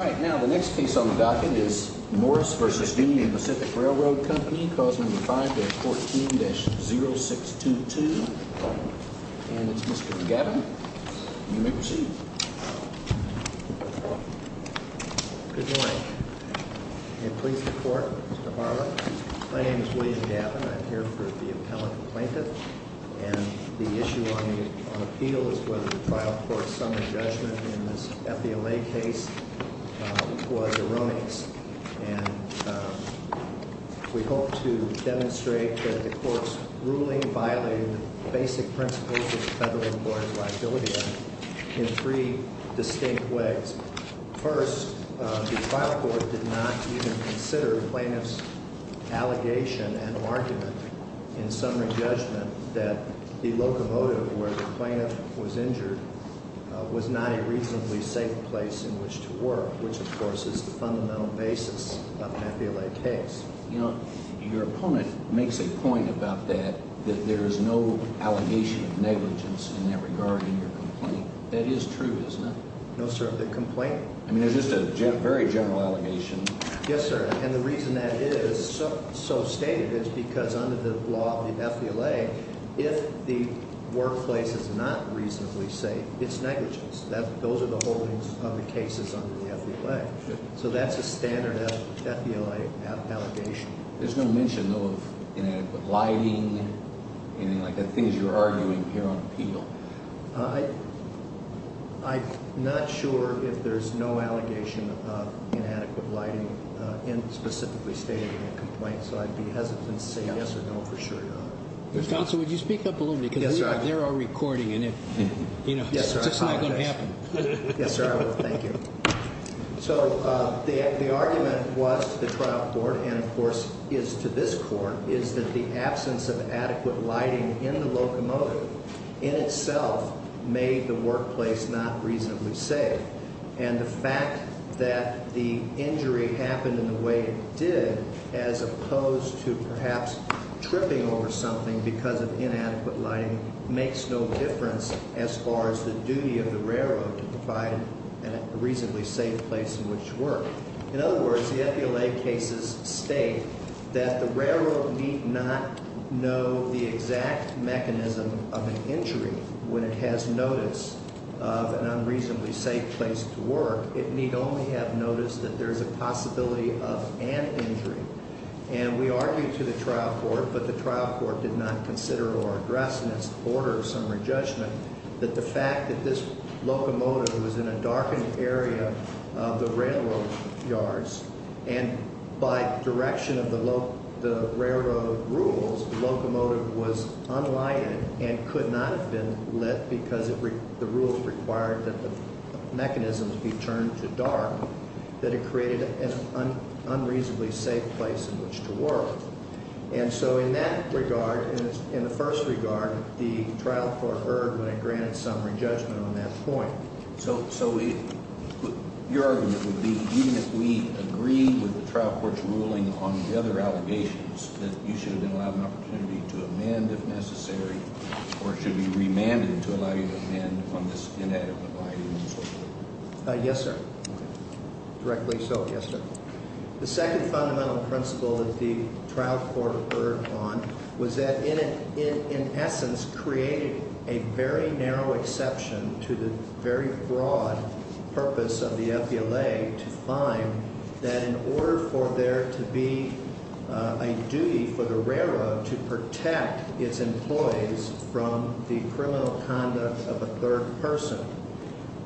All right, now the next piece on the docket is Morris v. Union Pacific Railroad Co. Clause No. 5-14-0622. And it's Mr. Gavin. You may proceed. Good morning. May it please the Court, Mr. Barber. My name is William Gavin. I'm here for the appellate plaintiff. And the issue on appeal is whether the trial court's summary judgment in this FBLA case was erroneous. And we hope to demonstrate that the Court's ruling violated the basic principles of the Federal Employer's Liability Act in three distinct ways. First, the trial court did not even consider the plaintiff's allegation and argument in summary judgment that the locomotive where the plaintiff was injured was not a reasonably safe place in which to work, which, of course, is the fundamental basis of an FBLA case. Your opponent makes a point about that, that there is no allegation of negligence in that regard in your complaint. That is true, isn't it? No, sir, of the complaint. I mean, it's just a very general allegation. Yes, sir. And the reason that is so stated is because under the law of the FBLA, if the workplace is not reasonably safe, it's negligence. Those are the holdings of the cases under the FBLA. So that's a standard FBLA allegation. There's no mention, though, of inadequate lighting, anything like that, things you're arguing here on appeal. I'm not sure if there's no allegation of inadequate lighting specifically stated in the complaint, so I'd be hesitant to say yes or no for sure, Your Honor. Counsel, would you speak up a little bit? Yes, sir. They're all recording, and it's just not going to happen. Yes, sir, I will. Thank you. So the argument was to the trial court and, of course, is to this court, is that the absence of adequate lighting in the locomotive in itself made the workplace not reasonably safe. And the fact that the injury happened in the way it did, as opposed to perhaps tripping over something because of inadequate lighting, makes no difference as far as the duty of the railroad to provide a reasonably safe place in which to work. In other words, the FBLA cases state that the railroad need not know the exact mechanism of an injury when it has notice of an unreasonably safe place to work. It need only have noticed that there's a possibility of an injury. And we argued to the trial court, but the trial court did not consider or address in its order of summary judgment that the fact that this locomotive was in a darkened area of the railroad yards, and by direction of the railroad rules, the locomotive was unlighted and could not have been lit because the rules required that the mechanisms be turned to dark, that it created an unreasonably safe place in which to work. And so in that regard, in the first regard, the trial court erred when it granted summary judgment on that point. So your argument would be even if we agreed with the trial court's ruling on the other allegations that you should have been allowed an opportunity to amend if necessary or should be remanded to allow you to amend on this inadequate lighting and so forth? Yes, sir. Okay. Directly so? Yes, sir.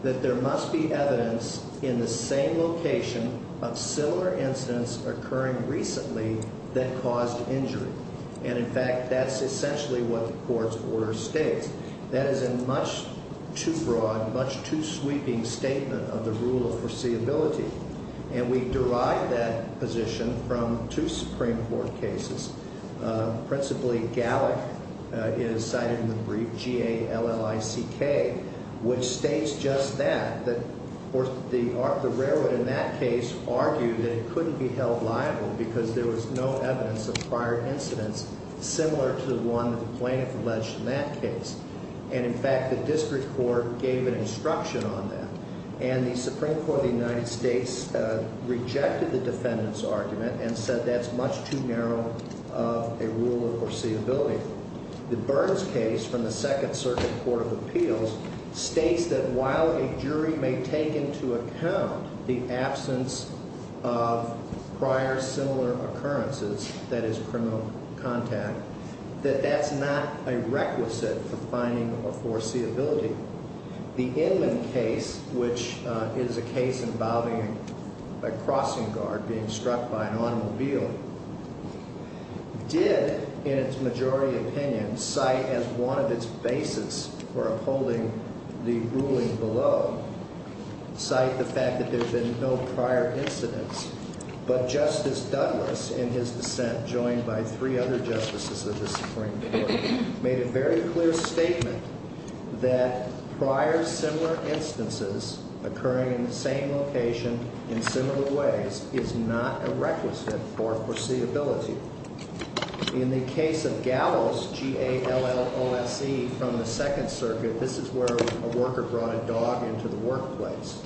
That there must be evidence in the same location of similar incidents occurring recently that caused injury. And, in fact, that's essentially what the court's order states. That is a much too broad, much too sweeping statement of the rule of foreseeability. And we derived that position from two Supreme Court cases. Principally, Gallick is cited in the brief, G-A-L-L-I-C-K, which states just that, that the railroad in that case argued that it couldn't be held liable because there was no evidence of prior incidents similar to the one that the plaintiff alleged in that case. And, in fact, the district court gave an instruction on that. And the Supreme Court of the United States rejected the defendant's argument and said that's much too narrow of a rule of foreseeability. The Burns case from the Second Circuit Court of Appeals states that while a jury may take into account the absence of prior similar occurrences, that is, criminal contact, that that's not a requisite for finding a foreseeability. The Inman case, which is a case involving a crossing guard being struck by an automobile, did, in its majority opinion, cite as one of its basis for upholding the ruling below, cite the fact that there had been no prior incidents. But Justice Douglas, in his dissent, joined by three other justices of the Supreme Court, made a very clear statement that prior similar instances occurring in the same location in similar ways is not a requisite for foreseeability. In the case of Gallo's G-A-L-L-O-S-E from the Second Circuit, this is where a worker brought a dog into the workplace.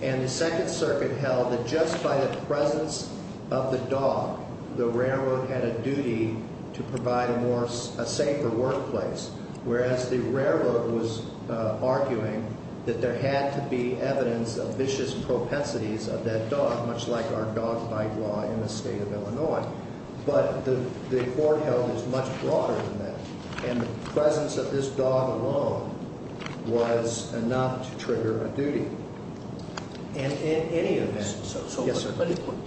And the Second Circuit held that just by the presence of the dog, the railroad had a duty to provide a more, a safer workplace, whereas the railroad was arguing that there had to be evidence of vicious propensities of that dog, much like our dog bite law in the state of Illinois. But the court held it's much broader than that. And the presence of this dog alone was enough to trigger a duty. And in any event, so. Yes, sir.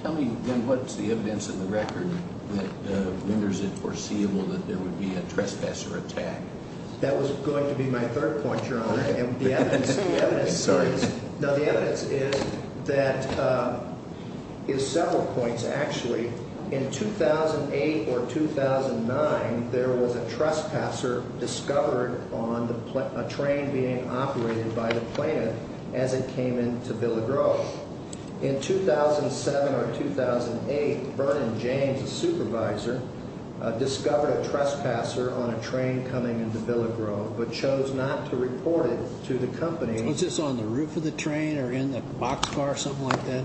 Tell me, then, what's the evidence in the record that renders it foreseeable that there would be a trespasser attack? Sorry. No, the evidence is that, is several points, actually. In 2008 or 2009, there was a trespasser discovered on a train being operated by the plaintiff as it came into Villa Grove. In 2007 or 2008, Vernon James, a supervisor, discovered a trespasser on a train coming into Villa Grove, but chose not to report it to the company. Was this on the roof of the train or in the boxcar or something like that?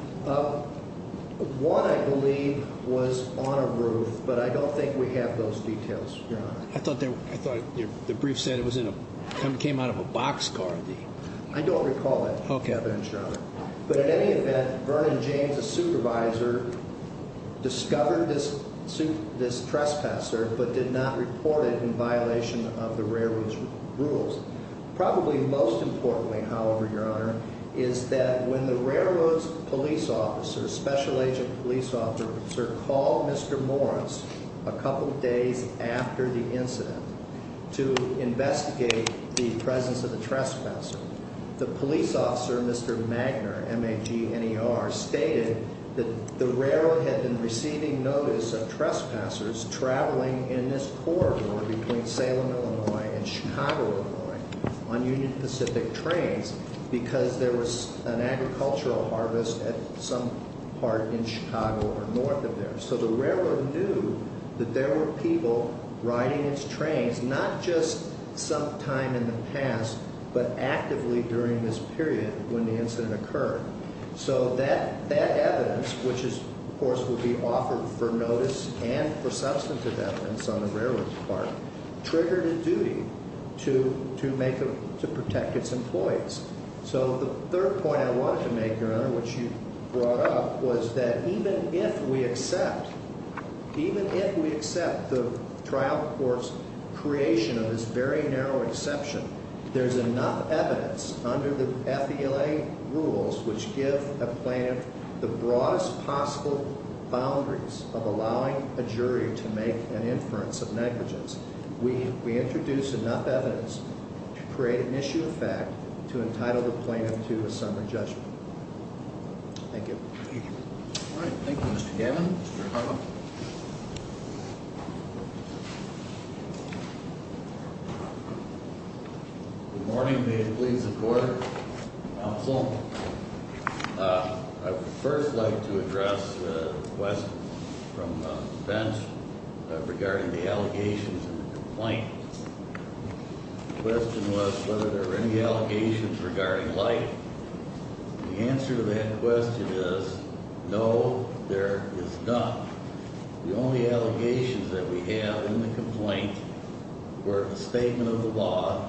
One, I believe, was on a roof, but I don't think we have those details, Your Honor. I thought the brief said it came out of a boxcar. I don't recall that. Okay. But in any event, Vernon James, a supervisor, discovered this trespasser but did not report it in violation of the railroad's rules. Probably most importantly, however, Your Honor, is that when the railroad's police officer, special agent police officer, called Mr. Morris a couple days after the incident to investigate the presence of the trespasser, the police officer, Mr. Magner, M-A-G-N-E-R, stated that the railroad had been receiving notice of trespassers traveling in this corridor between Salem, Illinois, and Chicago, Illinois, on Union Pacific trains because there was an agricultural harvest at some part in Chicago or north of there. So the railroad knew that there were people riding its trains, not just some time in the past, but actively during this period when the incident occurred. So that evidence, which, of course, would be offered for notice and for substantive evidence on the railroad's part, triggered a duty to protect its employees. So the third point I wanted to make, Your Honor, which you brought up, was that even if we accept the trial court's creation of this very narrow exception, there's enough evidence under the FELA rules which give a plaintiff the broadest possible boundaries of allowing a jury to make an inference of negligence. We introduce enough evidence to create an issue of fact to entitle the plaintiff to a summary judgment. Thank you. All right. Thank you, Mr. Gammon. Mr. Harlow? Good morning. May it please the Court. Counsel, I would first like to address a question from the bench regarding the allegations in the complaint. The question was whether there were any allegations regarding light. The answer to that question is no, there is not. The only allegations that we have in the complaint were a statement of the law,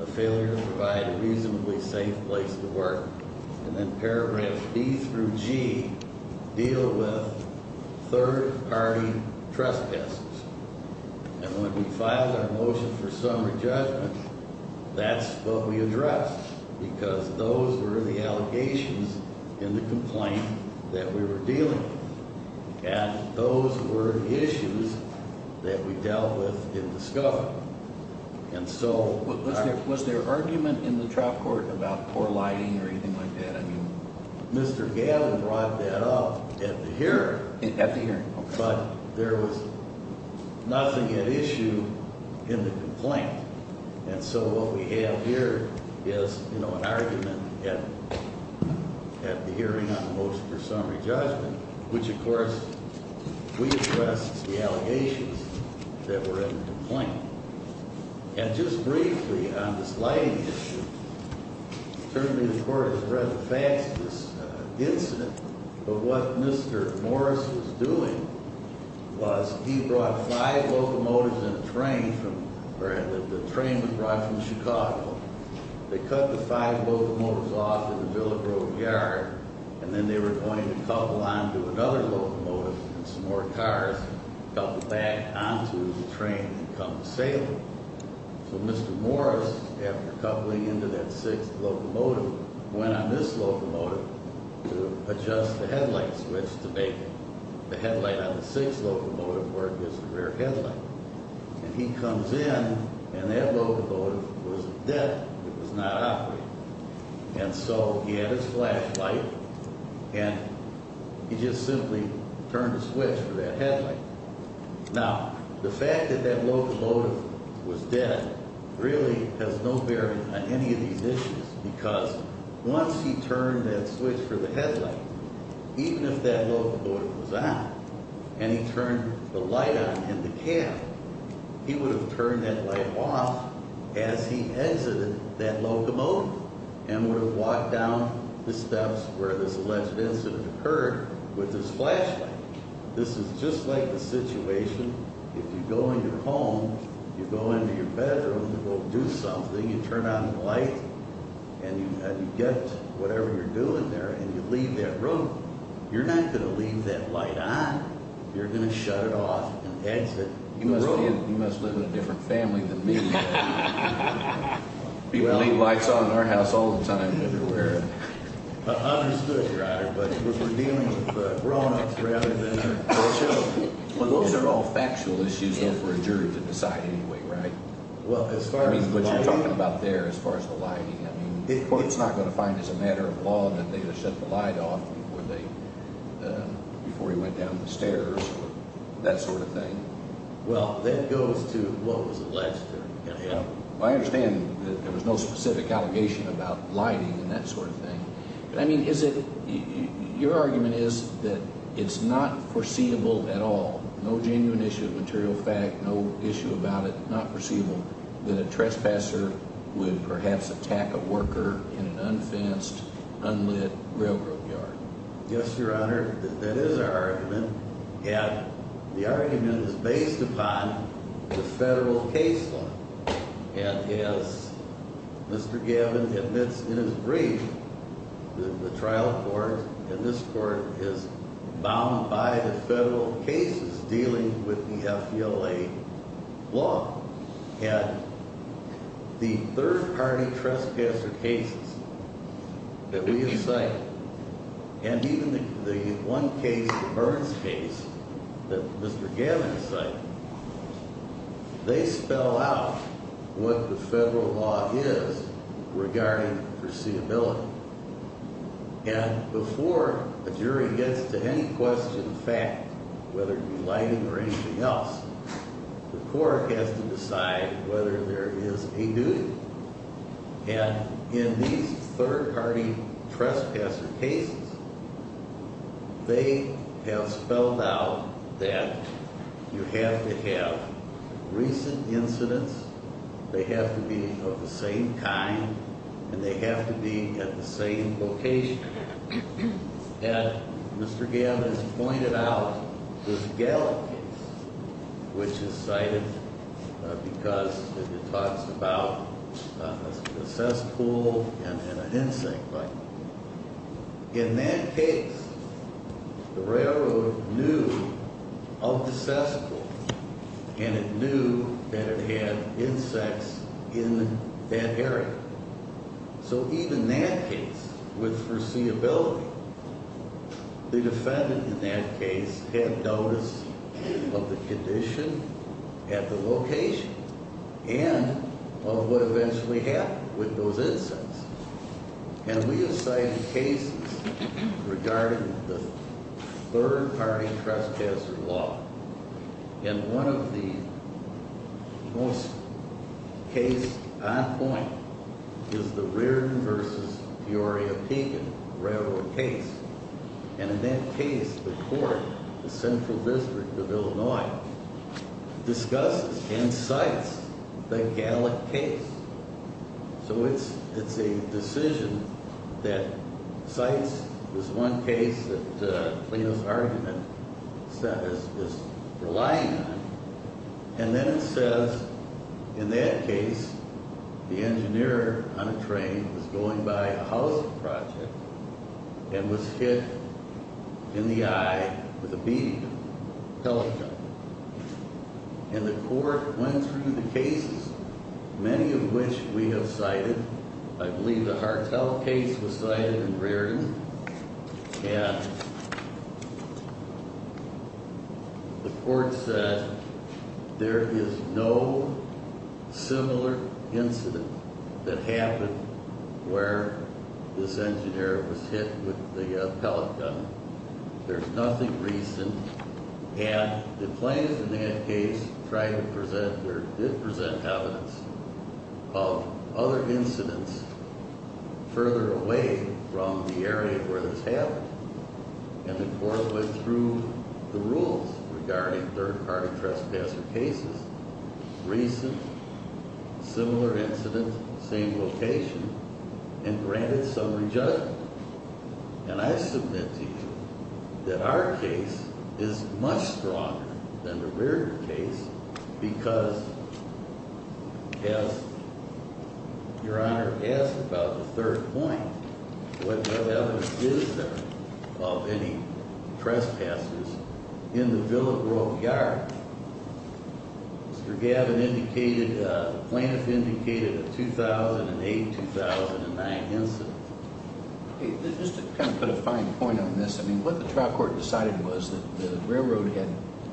a failure to provide a reasonably safe place to work, and then paragraph B through G, deal with third-party trespasses. And when we filed our motion for summary judgment, that's what we addressed, because those were the allegations in the complaint that we were dealing with, and those were the issues that we dealt with in the scope. Was there argument in the trial court about poor lighting or anything like that? Mr. Gammon brought that up at the hearing, but there was nothing at issue in the complaint. And so what we have here is an argument at the hearing on the motion for summary judgment, which, of course, we addressed the allegations that were in the complaint. And just briefly on this lighting issue, certainly the Court has read the facts of this incident, but what Mr. Morris was doing was he brought five locomotives and a train from – or the train was brought from Chicago. They cut the five locomotives off at the Villa Grove Yard, and then they were going to couple onto another locomotive and some more cars, couple back onto the train and come to Salem. So Mr. Morris, after coupling into that sixth locomotive, went on this locomotive to adjust the headlight switch to make the headlight on the sixth locomotive work as the rear headlight. And he comes in, and that locomotive was dead. It was not operating. And so he had his flashlight, and he just simply turned the switch for that headlight. Now, the fact that that locomotive was dead really has no bearing on any of these issues, because once he turned that switch for the headlight, even if that locomotive was on and he turned the light on in the cab, he would have turned that light off as he exited that locomotive and would have walked down the steps where this alleged incident occurred with his flashlight. This is just like the situation if you go into your home, you go into your bedroom, you go do something, you turn on the light, and you get whatever you're doing there, and you leave that room. You're not going to leave that light on. You're going to shut it off and exit the room. You must live in a different family than me. People leave lights on in our house all the time. Ununderstood, Your Honor, but we're dealing with grown-ups rather than poor children. Well, those are all factual issues for a jury to decide anyway, right? Well, as far as the lighting. I mean, what you're talking about there as far as the lighting. I mean, the court's not going to find it's a matter of law that they would have shut the light off before he went down the stairs or that sort of thing. I understand that there was no specific allegation about lighting and that sort of thing. I mean, your argument is that it's not foreseeable at all, no genuine issue of material fact, no issue about it, not foreseeable, that a trespasser would perhaps attack a worker in an unfenced, unlit railroad yard. Yes, Your Honor, that is our argument. And the argument is based upon the federal case law. And as Mr. Gavin admits in his brief, the trial court and this court is bound by the federal cases dealing with the FDLA law. And the third-party trespasser cases that we have cited, and even the one case, the Burns case, that Mr. Gavin has cited, they spell out what the federal law is regarding foreseeability. And before a jury gets to any question of fact, whether it be lighting or anything else, the court has to decide whether there is a duty. And in these third-party trespasser cases, they have spelled out that you have to have recent incidents, they have to be of the same kind, and they have to be at the same location. And Mr. Gavin has pointed out the Gallup case, which is cited because it talks about a cesspool and an insect bite. In that case, the railroad knew of the cesspool, and it knew that it had insects in that area. So even that case, with foreseeability, the defendant in that case had notice of the condition at the location and of what eventually happened with those insects. And we have cited cases regarding the third-party trespasser law. And one of the most case on point is the Reardon v. Peoria-Pegan railroad case. And in that case, the court, the Central District of Illinois, discusses and cites the Gallup case. So it's a decision that cites this one case that Plano's argument is relying on. And then it says, in that case, the engineer on a train was going by a housing project and was hit in the eye with a bead, a pellet gun. And the court went through the cases, many of which we have cited. I believe the Hartell case was cited in Reardon. And the court said there is no similar incident that happened where this engineer was hit with the pellet gun. There's nothing recent. And the plaintiff in that case tried to present or did present evidence of other incidents further away from the area where this happened. And the court went through the rules regarding third-party trespasser cases. Recent, similar incident, same location, and granted summary judgment. And I submit to you that our case is much stronger than the Reardon case because, as Your Honor asked about the third point, what other evidence is there of any trespassers in the Villa Grove yard? Mr. Gavin indicated, plaintiff indicated a 2008-2009 incident. Just to kind of put a fine point on this, I mean, what the trial court decided was that the railroad had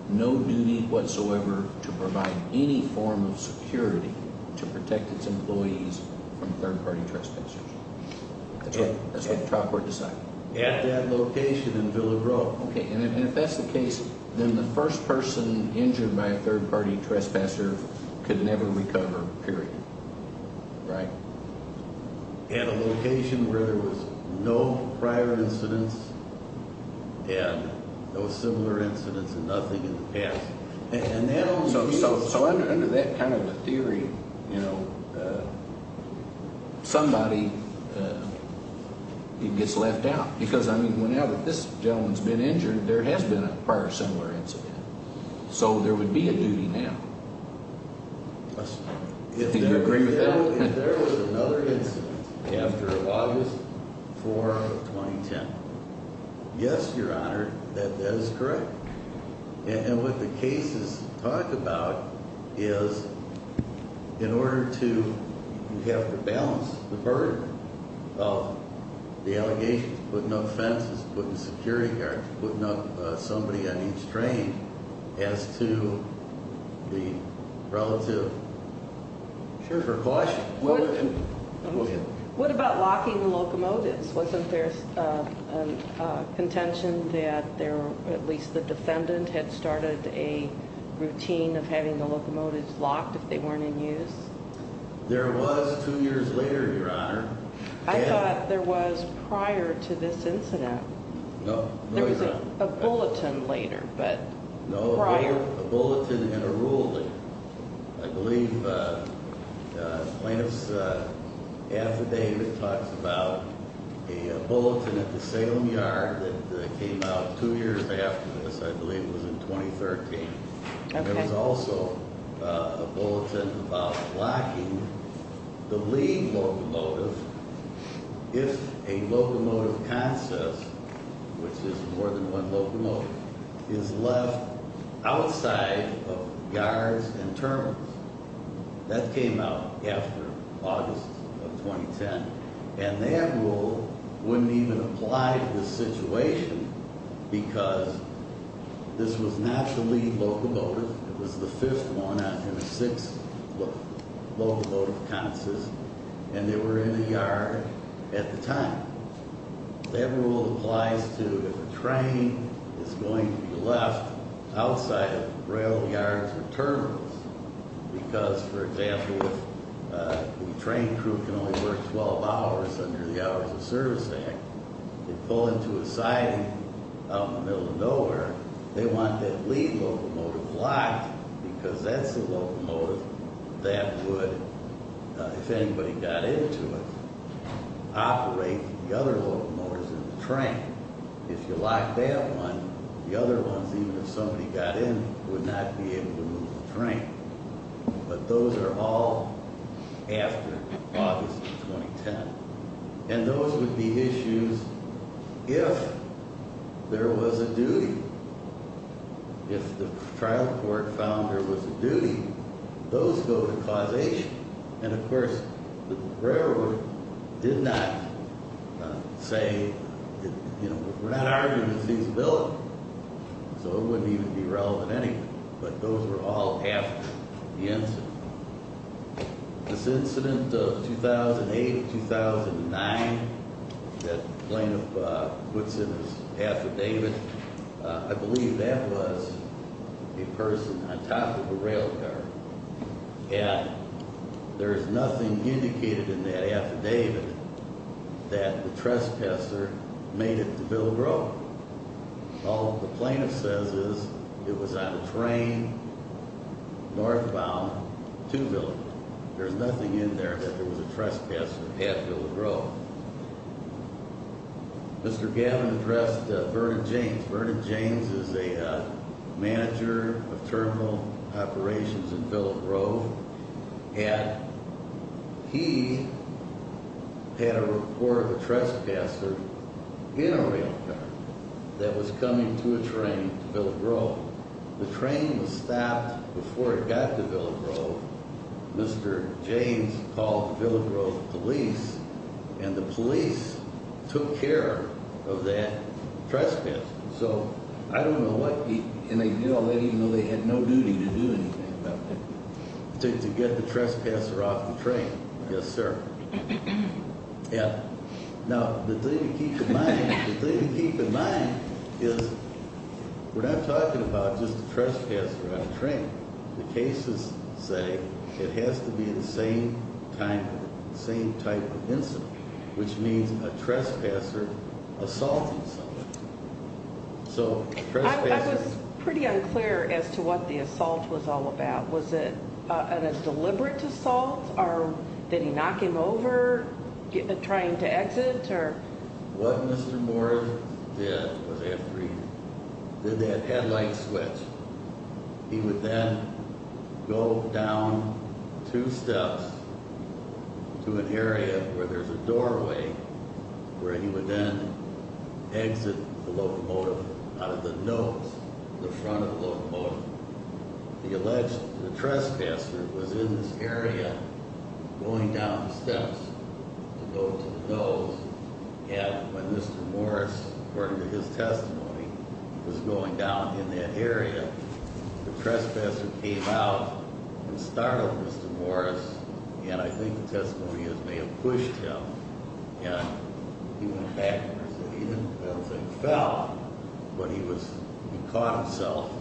no duty whatsoever to provide any form of security to protect its employees from third-party trespassers. That's what the trial court decided. At that location in Villa Grove. Okay. And if that's the case, then the first person injured by a third-party trespasser could never recover, period. Right? At a location where there was no prior incidents and no similar incidents and nothing in the past. So under that kind of a theory, you know, somebody gets left out. Because, I mean, whenever this gentleman's been injured, there has been a prior similar incident. So there would be a duty now. Do you agree with that? If there was another incident after August 4, 2010. Yes, Your Honor, that is correct. And what the cases talk about is in order to have to balance the burden of the allegations, putting up fences, putting up security guards, putting up somebody on each train, as to the relative. Sure. What about locking the locomotives? Wasn't there a contention that at least the defendant had started a routine of having the locomotives locked if they weren't in use? There was two years later, Your Honor. I thought there was prior to this incident. No. There was a bulletin later, but prior. No, a bulletin and a ruling. I believe plaintiff's affidavit talks about a bulletin at the Salem Yard that came out two years after this. I believe it was in 2013. Okay. There was also a bulletin about locking the lead locomotive if a locomotive concess, which is more than one locomotive, is left outside of guards and terminals. That came out after August of 2010, and that rule wouldn't even apply to this situation because this was not the lead locomotive. It was the fifth one in a six locomotive concess, and they were in the yard at the time. That rule applies to if a train is going to be left outside of rail yards or terminals because, for example, if a train crew can only work 12 hours under the Hours of Service Act and pull into a siding out in the middle of nowhere, they want that lead locomotive locked because that's the locomotive that would, if anybody got into it, operate the other locomotives in the train. If you locked that one, the other ones, even if somebody got in, would not be able to move the train. But those are all after August of 2010. And those would be issues if there was a duty. If the trial court found there was a duty, those go to causation. And, of course, the railroad did not say, you know, we're not arguing with feasibility, so it wouldn't even be relevant anyway. But those were all after the incident. This incident of 2008, 2009, that plaintiff puts in his affidavit, I believe that was a person on top of a rail yard. And there's nothing indicated in that affidavit that the trespasser made it to Bilbro. All the plaintiff says is it was on a train northbound to Bilbro. There's nothing in there that there was a trespasser at Bilbro. Mr. Gavin addressed Vernon James. Vernon James is a manager of terminal operations in Bilbro. And he had a report of a trespasser in a rail car that was coming to a train to Bilbro. The train was stopped before it got to Bilbro. Mr. James called Bilbro police, and the police took care of that trespasser. So I don't know what he—and they did all that even though they had no duty to do anything about it. To get the trespasser off the train. Yes, sir. Now, the thing to keep in mind, the thing to keep in mind is we're not talking about just the trespasser on a train. The cases say it has to be the same type of incident, which means a trespasser assaulted someone. I was pretty unclear as to what the assault was all about. Was it a deliberate assault? Did he knock him over trying to exit? What Mr. Moore did was after he did that headlight switch, he would then go down two steps to an area where there's a doorway, where he would then exit the locomotive out of the nose of the front of the locomotive. The alleged—the trespasser was in this area going down the steps to go to the nose. And when Mr. Morris, according to his testimony, was going down in that area, the trespasser came out and startled Mr. Morris, and I think the testimony may have pushed him. And he went back and said he didn't—I don't think he fell, but he was—he caught himself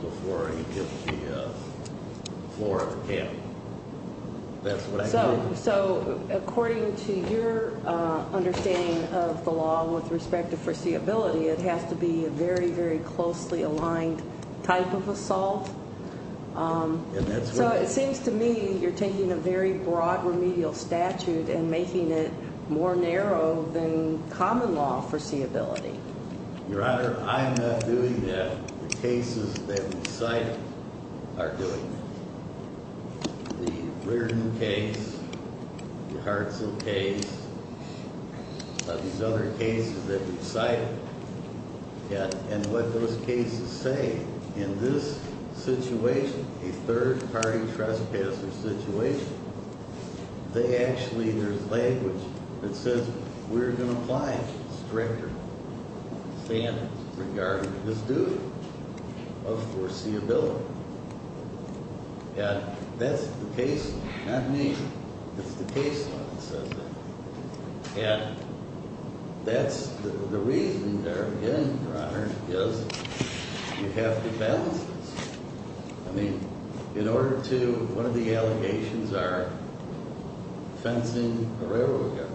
before he hit the floor of the cabin. That's what I know. So according to your understanding of the law with respect to foreseeability, it has to be a very, very closely aligned type of assault. So it seems to me you're taking a very broad remedial statute and making it more narrow than common law foreseeability. Your Honor, I'm not doing that. The cases that we cite are doing that. The Reardon case, the Hartzell case, these other cases that we cite, and what those cases say in this situation, a third-party trespasser situation, they actually—there's language that says we're going to apply stricter standards regarding this duty of foreseeability. And that's the case—not me, it's the case law that says that. And that's—the reason they're getting it, Your Honor, is you have to balance this. I mean, in order to—one of the allegations are fencing the railroad guard,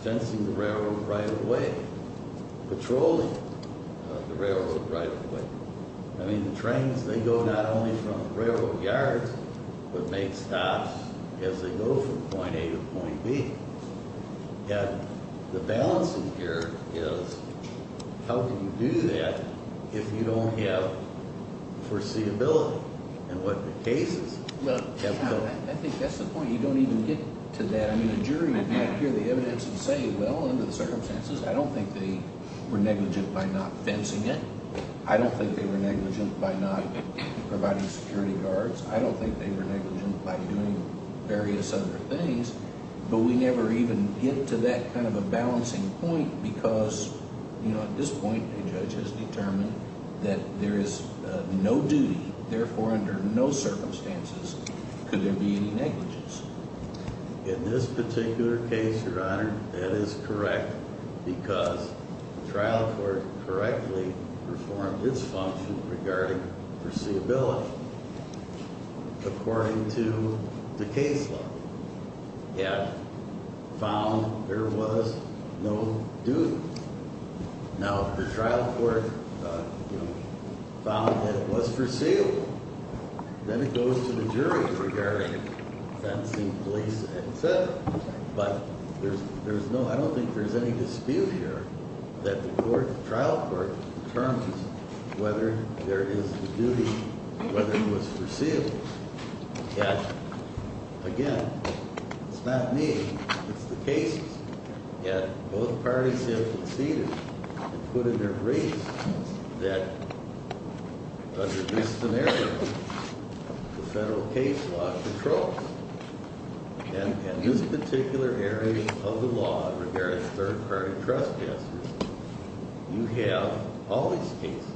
fencing the railroad right-of-way, patrolling the railroad right-of-way. I mean, the trains, they go not only from railroad yards, but make stops as they go from point A to point B. And the balance in here is how can you do that if you don't have foreseeability in what the cases have told you? I think that's the point. You don't even get to that. I mean, the jury would not hear the evidence and say, well, under the circumstances, I don't think they were negligent by not fencing it. I don't think they were negligent by not providing security guards. I don't think they were negligent by doing various other things. But we never even get to that kind of a balancing point because, you know, at this point, a judge has determined that there is no duty. Therefore, under no circumstances could there be any negligence. In this particular case, Your Honor, that is correct because the trial court correctly performed its function regarding foreseeability. According to the case law, it found there was no duty. Now, if the trial court found that it was foreseeable, then it goes to the jury regarding fencing, police, et cetera. But there's no, I don't think there's any dispute here that the court, the trial court, determines whether there is a duty, whether it was foreseeable. Yet, again, it's not me. It's the cases. Yet, both parties have conceded and put in their grace that under this scenario, the federal case law controls. And in this particular area of the law regarding third-party trespassers, you have all these cases.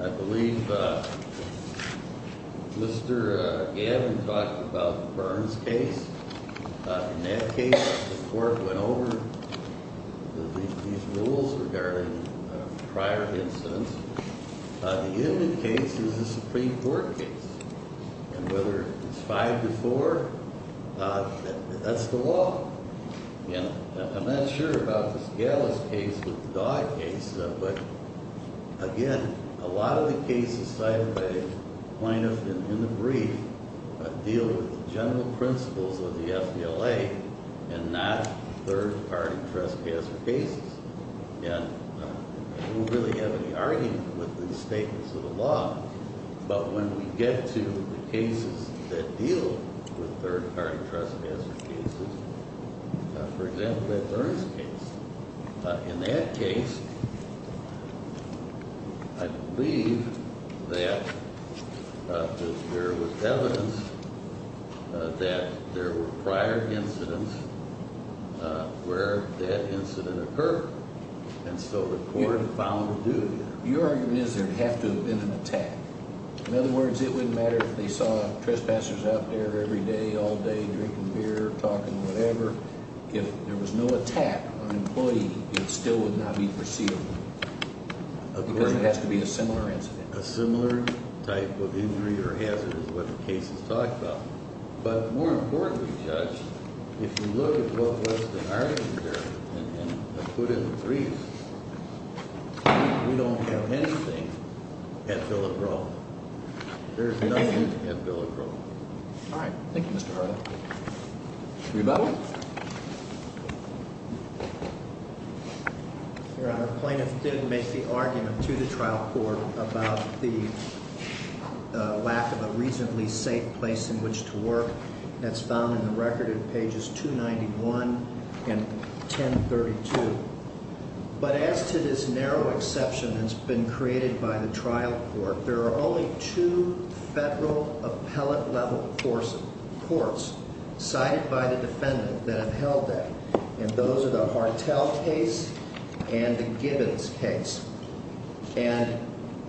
I believe Mr. Gavin talked about the Burns case. In that case, the court went over these rules regarding prior incidents. The Inman case is a Supreme Court case. And whether it's five to four, that's the law. And I'm not sure about the Scalise case with the dog case. But, again, a lot of the cases cited by plaintiffs in the brief deal with the general principles of the FDLA and not third-party trespasser cases. And we don't really have any argument with these statements of the law. But when we get to the cases that deal with third-party trespasser cases, for example, that Burns case. In that case, I believe that there was evidence that there were prior incidents where that incident occurred. And so the court found a duty. Your argument is there would have to have been an attack. In other words, it wouldn't matter if they saw trespassers out there every day, all day, drinking beer, talking, whatever. If there was no attack on an employee, it still would not be foreseeable because it has to be a similar incident. A similar type of injury or hazard is what the case is talking about. But more importantly, Judge, if you look at what was the argument there and put it in the briefs, we don't have anything at Bill O'Groat. There's nothing at Bill O'Groat. All right. Thank you, Mr. Harlan. Rebuttal? Your Honor, plaintiff did make the argument to the trial court about the lack of a reasonably safe place in which to work. That's found in the record in pages 291 and 1032. But as to this narrow exception that's been created by the trial court, there are only two federal appellate level courts cited by the defendant that have held that. And those are the Hartell case and the Gibbons case. And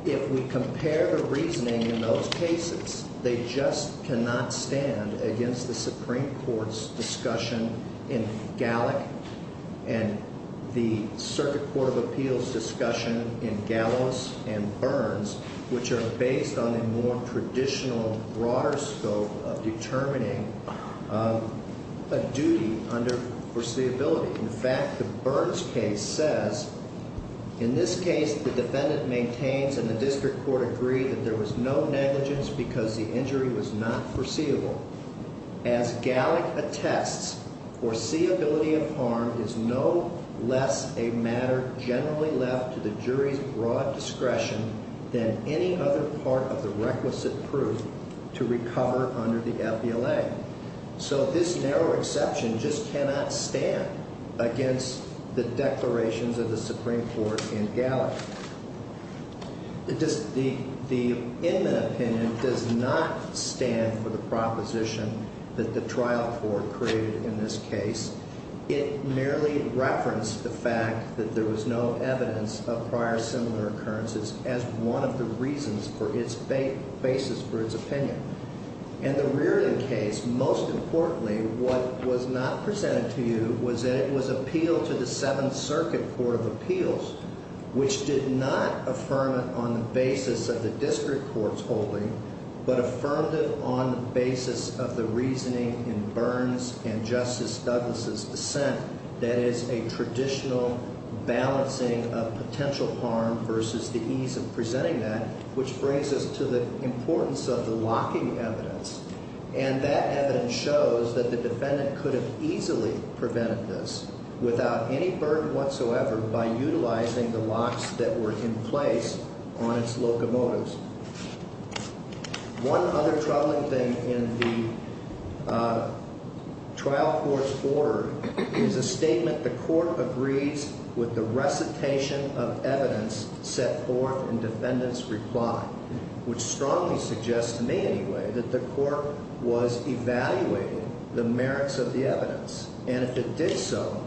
if we compare the reasoning in those cases, they just cannot stand against the Supreme Court's discussion in Gallick and the Circuit Court of Appeals discussion in Gallows and Burns, which are based on a more traditional, broader scope of determining a duty under foreseeability. In fact, the Burns case says, in this case, the defendant maintains and the district court agreed that there was no negligence because the injury was not foreseeable. As Gallick attests, foreseeability of harm is no less a matter generally left to the jury's broad discretion than any other part of the requisite proof to recover under the appellate. So this narrow exception just cannot stand against the declarations of the Supreme Court in Gallick. The inmate opinion does not stand for the proposition that the trial court created in this case. It merely referenced the fact that there was no evidence of prior similar occurrences as one of the reasons for its basis for its opinion. In the Reardon case, most importantly, what was not presented to you was that it was appealed to the Seventh Circuit Court of Appeals, which did not affirm it on the basis of the district court's holding, but affirmed it on the basis of the reasoning in Burns and Justice Douglas' dissent. That is a traditional balancing of potential harm versus the ease of presenting that, which brings us to the importance of the locking evidence. And that evidence shows that the defendant could have easily prevented this without any burden whatsoever by utilizing the locks that were in place on its locomotives. One other troubling thing in the trial court's order is a statement, the court agrees with the recitation of evidence set forth in defendant's reply, which strongly suggests, to me anyway, that the court was evaluating the merits of the evidence. And if it did so,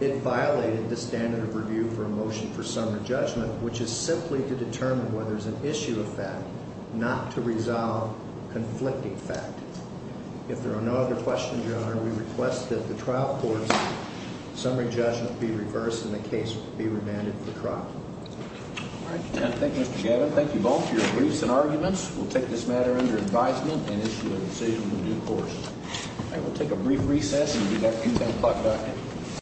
it violated the standard of review for a motion for summary judgment, which is simply to determine whether it's an issue of fact, not to resolve conflicting fact. If there are no other questions, Your Honor, we request that the trial court's summary judgment be reversed and the case be remanded for trial. All right. Thank you, Mr. Gavin. Thank you both for your briefs and arguments. We'll take this matter under advisement and issue a decision in due course. All right. We'll take a brief recess and be back at 10 o'clock.